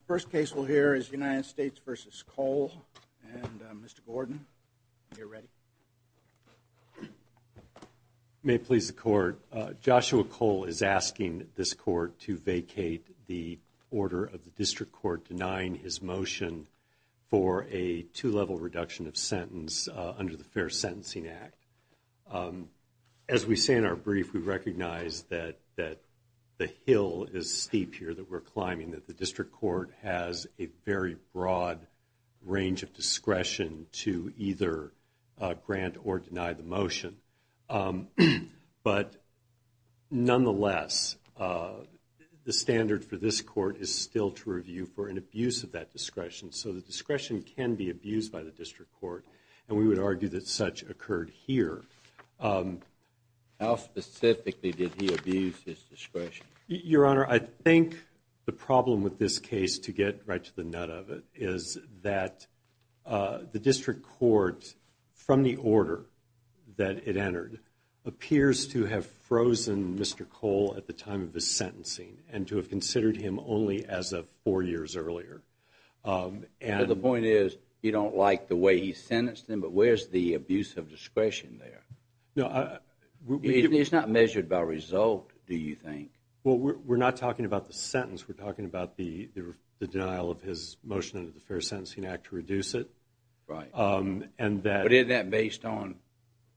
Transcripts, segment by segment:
The first case we'll hear is United States v. Cole, and Mr. Gordon, you're ready. May it please the Court, Joshua Cole is asking this Court to vacate the order of the District Court denying his motion for a two-level reduction of sentence under the Fair Sentencing Act. As we say in our brief, we recognize that the hill is steep here that we're climbing, that the District Court has a very broad range of discretion to either grant or deny the motion. But nonetheless, the standard for this Court is still to review for an abuse of that How specifically did he abuse his discretion? Your Honor, I think the problem with this case, to get right to the nut of it, is that the District Court, from the order that it entered, appears to have frozen Mr. Cole at the time of his sentencing and to have considered him only as of four years earlier. So the point is, you don't like the way he sentenced him, but where's the abuse of discretion there? It's not measured by result, do you think? Well, we're not talking about the sentence, we're talking about the denial of his motion under the Fair Sentencing Act to reduce it. But isn't that based on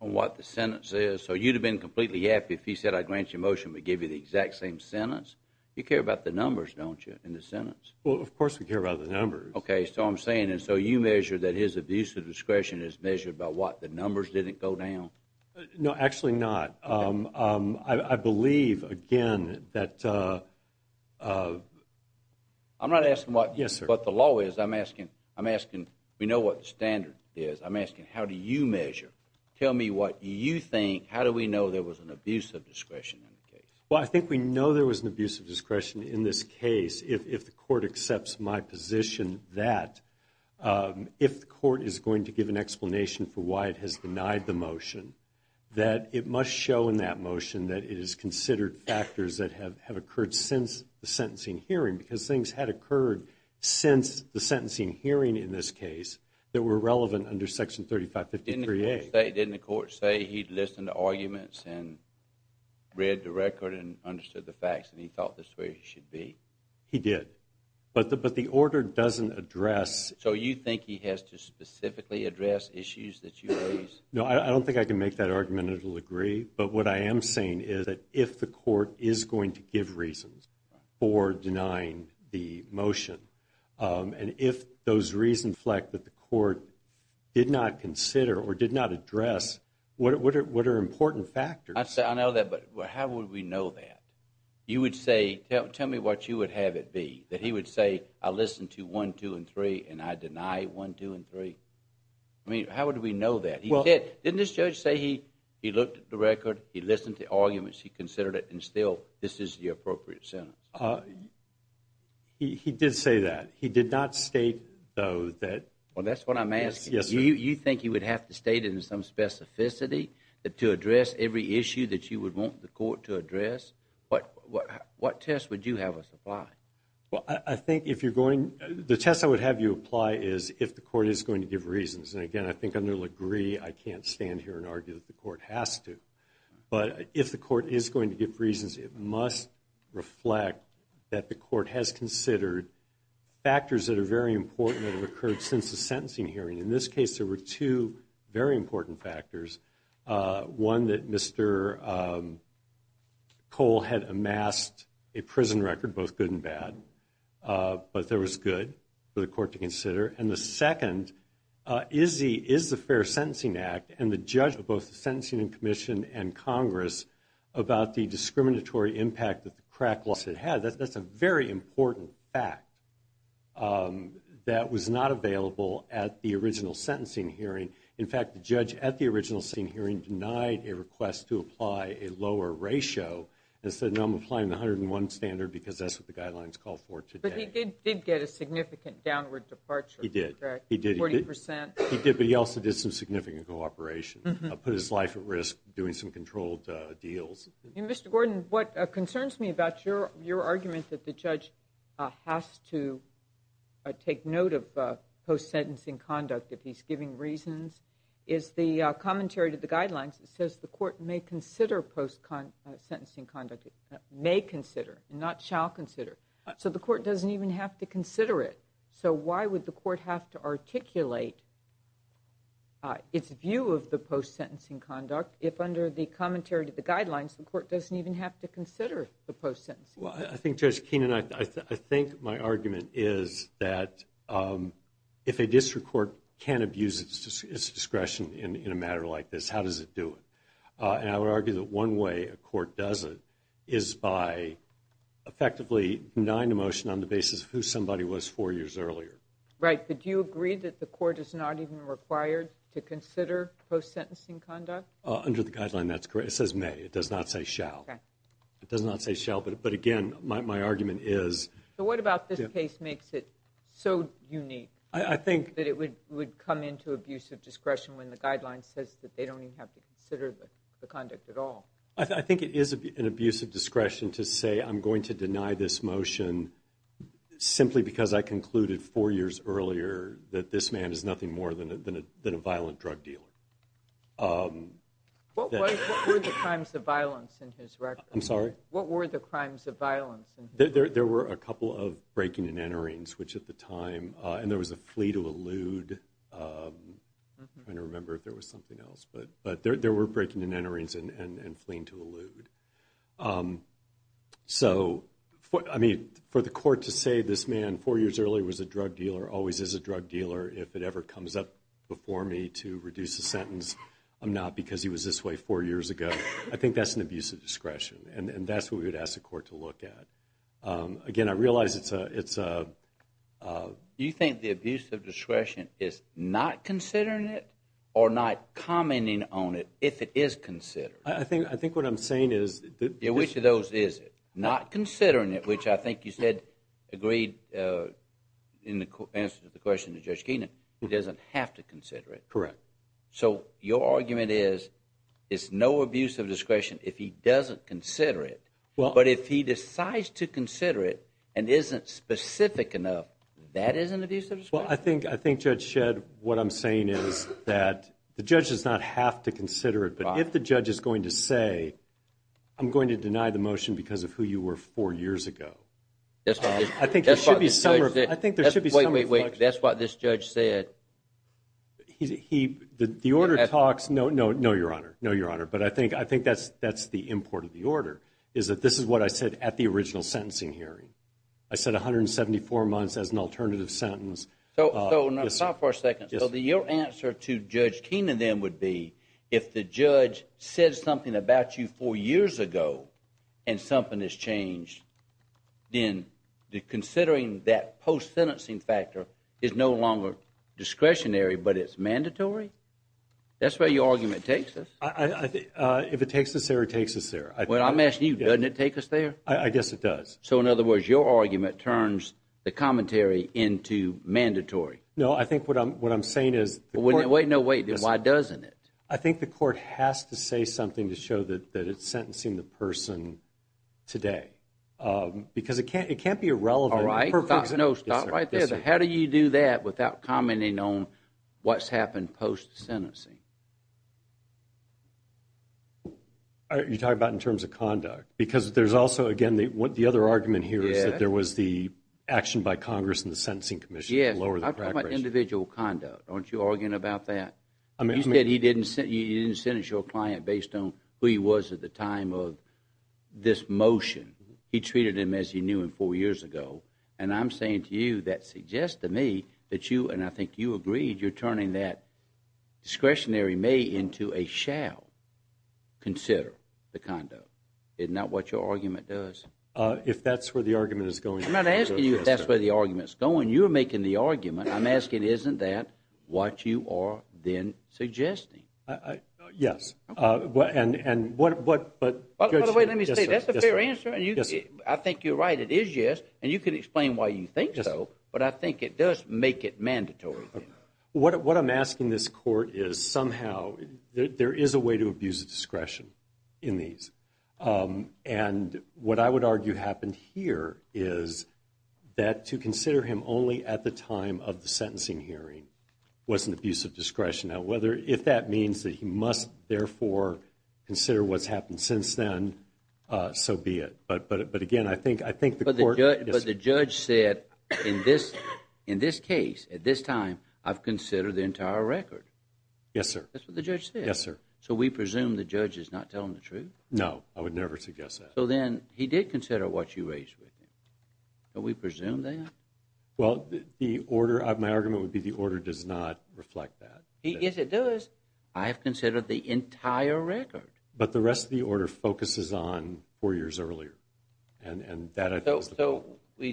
what the sentence is? So you'd have been completely happy if he said, I grant you a motion, but give you the exact same sentence? You care about the numbers, don't you, in the sentence? Well, of course we care about the numbers. Okay, so I'm saying, and so you measure that his abuse of discretion is measured by what, the numbers didn't go down? No, actually not. I believe, again, that... I'm not asking what the law is, I'm asking, we know what the standard is, I'm asking, how do you measure? Tell me what you think, how do we know there was an abuse of discretion in the case? Well, I think we know there was an abuse of discretion in this case if the court accepts my position that if the court is going to give an explanation for why it has denied the motion, that it must show in that motion that it is considered factors that have occurred since the sentencing hearing, because things had occurred since the sentencing hearing in this case that were relevant under Section 3553A. Didn't the court say he'd listened to arguments and read the record and understood the facts and he thought this is where he should be? He did, but the order doesn't address... So you think he has to specifically address issues that you raised? No, I don't think I can make that argument, I don't agree, but what I am saying is that if the court is going to give reasons for denying the motion, and if those reasons, Fleck, that the court did not consider or did not address, what are important factors? I know that, but how would we know that? You would say, tell me what you would have it be, that he would say, I listened to 1, 2, and 3, and I deny 1, 2, and 3? I mean, how would we know that? Didn't this judge say he looked at the record, he listened to arguments, he considered it, and still, this is the appropriate sentence? He did say that. He did not state, though, that... Well, that's what I'm asking. Yes, sir. You think he would have to state it in some specificity to address every issue that you would want the court to address? What test would you have us apply? Well, I think if you're going... the test I would have you apply is if the court is going to give reasons. And again, I think under LaGrie, I can't stand here and argue that the court has to. But if the court is going to give reasons, it must reflect that the court has considered factors that are very important that have occurred since the sentencing hearing. In this case, there were two very important factors. One, that Mr. Cole had amassed a prison record, both good and bad, but there was good for the court to consider. And the second is the Fair Sentencing Act and the judge of both the Sentencing Commission and Congress about the discriminatory impact that the crack lawsuit had. That's a very important fact that was not available at the original sentencing hearing. In fact, the judge at the original sentencing hearing denied a request to apply a lower ratio and said, no, I'm applying the 101 standard because that's what the guidelines call for today. But he did get a significant downward departure, correct? He did. Forty percent? He did, but he also did some significant cooperation, put his life at risk doing some controlled deals. Mr. Gordon, what concerns me about your argument that the judge has to take note of post-sentencing conduct if he's giving reasons is the commentary to the guidelines that says the court may consider post-sentencing conduct, may consider and not shall consider. So the court doesn't even have to consider it. So why would the court have to articulate its view of the post-sentencing conduct if under the commentary to the guidelines, the court doesn't even have to consider the post-sentencing? Well, I think, Judge Keenan, I think my argument is that if a district court can't abuse its discretion in a matter like this, how does it do it? And I would argue that one way a court does it is by effectively denying a motion on the basis of who somebody was four years earlier. Right. But do you agree that the court is not even required to consider post-sentencing conduct? Under the guideline, that's correct. It says may. It does not say shall. Okay. It does not say shall. But again, my argument is. So what about this case makes it so unique? I think. That it would come into abuse of discretion when the guideline says that they don't even have to consider the conduct at all. I think it is an abuse of discretion to say I'm going to deny this motion simply because I concluded four years earlier that this man is nothing more than a violent drug dealer. What were the crimes of violence in his record? I'm sorry? What were the crimes of violence? There were a couple of breaking and enterings, which at the time. And there was a flee to elude. I'm trying to remember if there was something else. But there were breaking and enterings and fleeing to elude. So, I mean, for the court to say this man four years earlier was a drug dealer, always is a drug dealer, if it ever comes up before me to reduce a sentence, I'm not because he was this way four years ago. I think that's an abuse of discretion. And that's what we would ask the court to look at. Again, I realize it's a. You think the abuse of discretion is not considering it or not commenting on it if it is considered? I think what I'm saying is. Which of those is it? Not considering it, which I think you said agreed in the answer to the question to Judge Keenan, it doesn't have to consider it. Correct. So your argument is, it's no abuse of discretion if he doesn't consider it. But if he decides to consider it and isn't specific enough, that is an abuse of discretion. Well, I think Judge Shedd, what I'm saying is that the judge does not have to consider it. But if the judge is going to say, I'm going to deny the motion because of who you were four years ago, I think there should be some reflection. Wait, wait, wait. That's what this judge said. The order talks. No, no, no, Your Honor. No, Your Honor. But I think that's the import of the order is that this is what I said at the original sentencing hearing. I said 174 months as an alternative sentence. So stop for a second. So your answer to Judge Keenan then would be, if the judge said something about you four years ago and something has changed, then considering that post-sentencing factor is no longer discretionary but it's mandatory? That's where your argument takes us. If it takes us there, it takes us there. Well, I'm asking you, doesn't it take us there? I guess it does. So, in other words, your argument turns the commentary into mandatory. No, I think what I'm saying is the court— Wait, no, wait. Why doesn't it? I think the court has to say something to show that it's sentencing the person today because it can't be irrelevant. All right. No, stop right there. How do you do that without commenting on what's happened post-sentencing? You're talking about in terms of conduct because there's also, again, the other argument here is that there was the action by Congress and the Sentencing Commission to lower the crack rate. Yes, I'm talking about individual conduct. Aren't you arguing about that? You said you didn't sentence your client based on who he was at the time of this motion. He treated him as he knew him four years ago. And I'm saying to you that suggests to me that you, and I think you agreed, you're turning that discretionary may into a shall consider the conduct. Isn't that what your argument does? If that's where the argument is going. I'm not asking you if that's where the argument is going. You're making the argument. I'm asking isn't that what you are then suggesting? Yes. And what, but, Judge. By the way, let me say, that's a fair answer. I think you're right. It is yes. And you can explain why you think so. But I think it does make it mandatory. What I'm asking this court is somehow there is a way to abuse discretion in these. And what I would argue happened here is that to consider him only at the time of the sentencing hearing was an abuse of discretion. Now, if that means that he must therefore consider what's happened since then, so be it. But again, I think the court. But the judge said in this case, at this time, I've considered the entire record. Yes, sir. That's what the judge said. Yes, sir. So we presume the judge is not telling the truth? No. I would never suggest that. So then he did consider what you raised with him. Do we presume that? Well, the order, my argument would be the order does not reflect that. Yes, it does. I have considered the entire record. But the rest of the order focuses on four years earlier. And that I think is the point.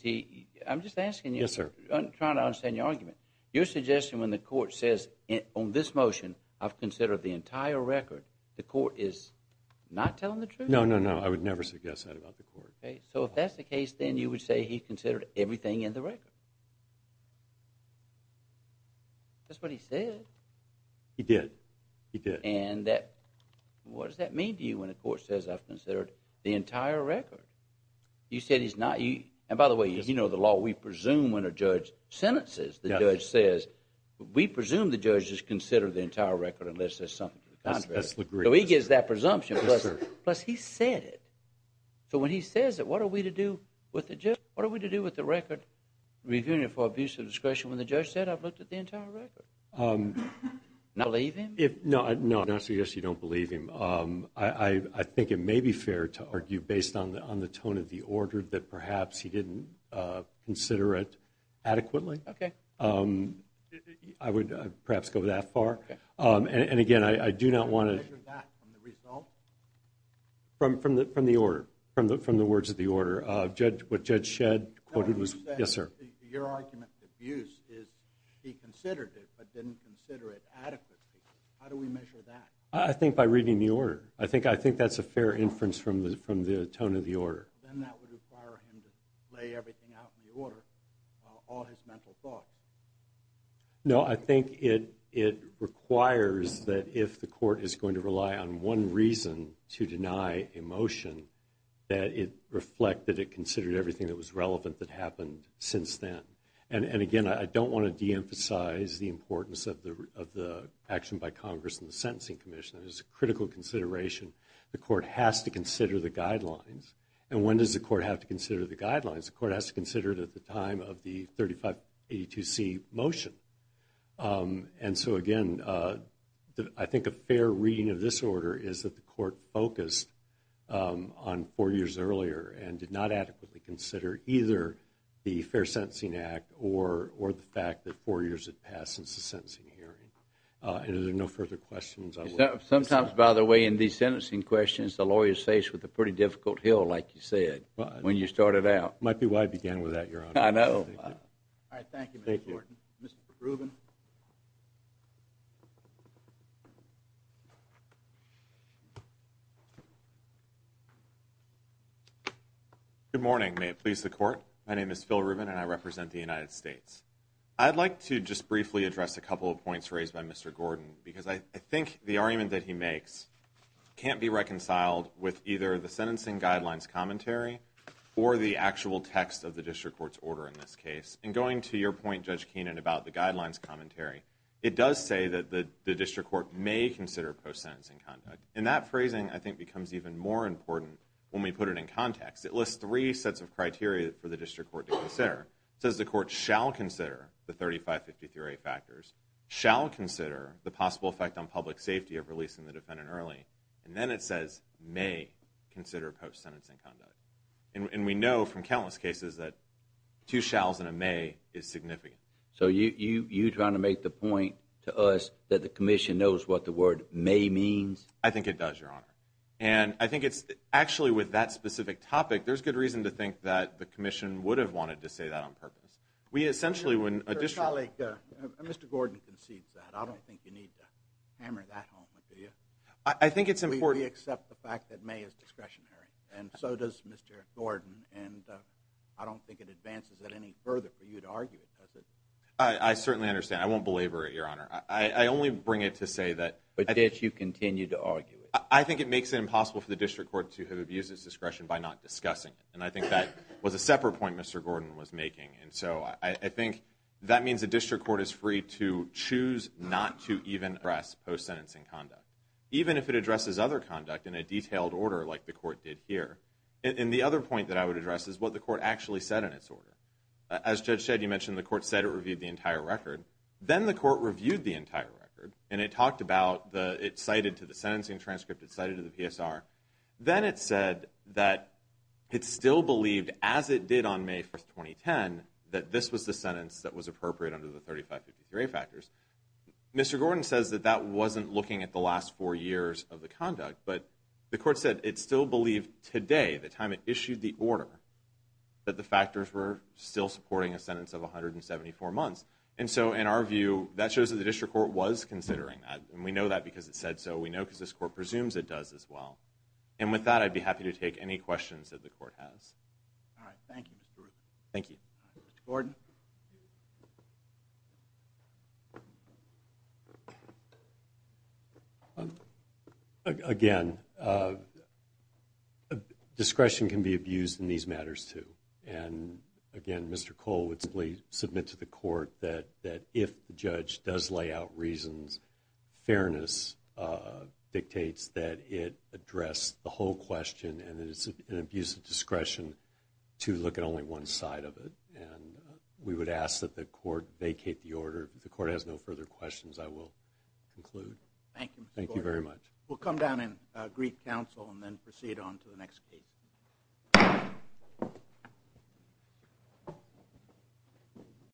So, I'm just asking you. Yes, sir. I'm trying to understand your argument. You're suggesting when the court says on this motion, I've considered the entire record, the court is not telling the truth? No, no, no. I would never suggest that about the court. Okay. So if that's the case, then you would say he considered everything in the record. That's what he said. He did. He did. And that, what does that mean to you when the court says I've considered the entire record? You said he's not, and by the way, you know the law, we presume when a judge sentences, the judge says, we presume the judge has considered the entire record unless there's something to the contrary. So he gives that presumption. Yes, sir. Plus he said it. So when he says it, what are we to do with the record review for abuse of discretion when the judge said I've looked at the entire record? Not believe him? No, I would not suggest you don't believe him. I think it may be fair to argue based on the tone of the order that perhaps he didn't consider it adequately. Okay. I would perhaps go that far. Okay. And again, I do not want to... Measure that from the result? From the order, from the words of the order. What Judge Shedd quoted was... No, he said your argument for abuse is he considered it but didn't consider it adequately. How do we measure that? I think by reading the order. I think that's a fair inference from the tone of the order. Then that would require him to lay everything out in the order, all his mental thoughts. No, I think it requires that if the court is going to rely on one reason to deny a motion, that it reflect that it considered everything that was relevant that happened since then. And again, I don't want to de-emphasize the importance of the action by Congress and the Sentencing Commission. It is a critical consideration. The court has to consider the guidelines. And when does the court have to consider the guidelines? The court has to consider it at the time of the 3582C motion. And so again, I think a fair reading of this order is that the court focused on four years earlier and did not adequately consider either the Fair Sentencing Act or the fact that four years had passed since the sentencing hearing. Are there no further questions? Sometimes, by the way, in these sentencing questions, the lawyers face with a pretty difficult hill, like you said, when you started out. It might be why I began with that, Your Honor. I know. All right. Thank you, Mr. Gordon. Mr. Rubin. Good morning. May it please the Court. My name is Phil Rubin, and I represent the United States. I'd like to just briefly address a couple of points raised by Mr. Gordon because I think the argument that he makes can't be reconciled with either the sentencing guidelines commentary or the actual text of the district court's order in this case. And going to your point, Judge Keenan, about the guidelines commentary, it does say that the district court may consider post-sentencing conduct. And that phrasing, I think, becomes even more important when we put it in context. It lists three sets of criteria for the district court to consider. It says the court shall consider the 3553A factors, shall consider the possible effect on public safety of releasing the defendant early, and then it says may consider post-sentencing conduct. And we know from countless cases that two shalls and a may is significant. So you're trying to make the point to us that the commission knows what the word may means? I think it does, Your Honor. And I think it's actually with that specific topic, there's good reason to think that the commission would have wanted to say that on purpose. Mr. Gordon concedes that. I don't think you need to hammer that home, do you? I think it's important. We accept the fact that may is discretionary, and so does Mr. Gordon. And I don't think it advances it any further for you to argue it, does it? I certainly understand. I won't belabor it, Your Honor. I only bring it to say that – But yet you continue to argue it. I think it makes it impossible for the district court to have abused its discretion by not discussing it. And I think that was a separate point Mr. Gordon was making. And so I think that means the district court is free to choose not to even address post-sentencing conduct, even if it addresses other conduct in a detailed order like the court did here. And the other point that I would address is what the court actually said in its order. As Judge Shedd, you mentioned the court said it reviewed the entire record. Then the court reviewed the entire record, and it talked about it cited to the sentencing transcript, it cited to the PSR. Then it said that it still believed, as it did on May 1, 2010, that this was the sentence that was appropriate under the 3553 factors. Mr. Gordon says that that wasn't looking at the last four years of the conduct, but the court said it still believed today, the time it issued the order, that the factors were still supporting a sentence of 174 months. And so in our view, that shows that the district court was considering that, and we know that because it said so. We know because this court presumes it does as well. And with that, I'd be happy to take any questions that the court has. All right. Thank you, Mr. Ruth. Thank you. Mr. Gordon. Again, discretion can be abused in these matters, too. Again, Mr. Cole would simply submit to the court that if the judge does lay out reasons, fairness dictates that it address the whole question, and that it's an abuse of discretion to look at only one side of it. We would ask that the court vacate the order. If the court has no further questions, I will conclude. Thank you, Mr. Gordon. Thank you very much. We'll come down and greet counsel and then proceed on to the next case.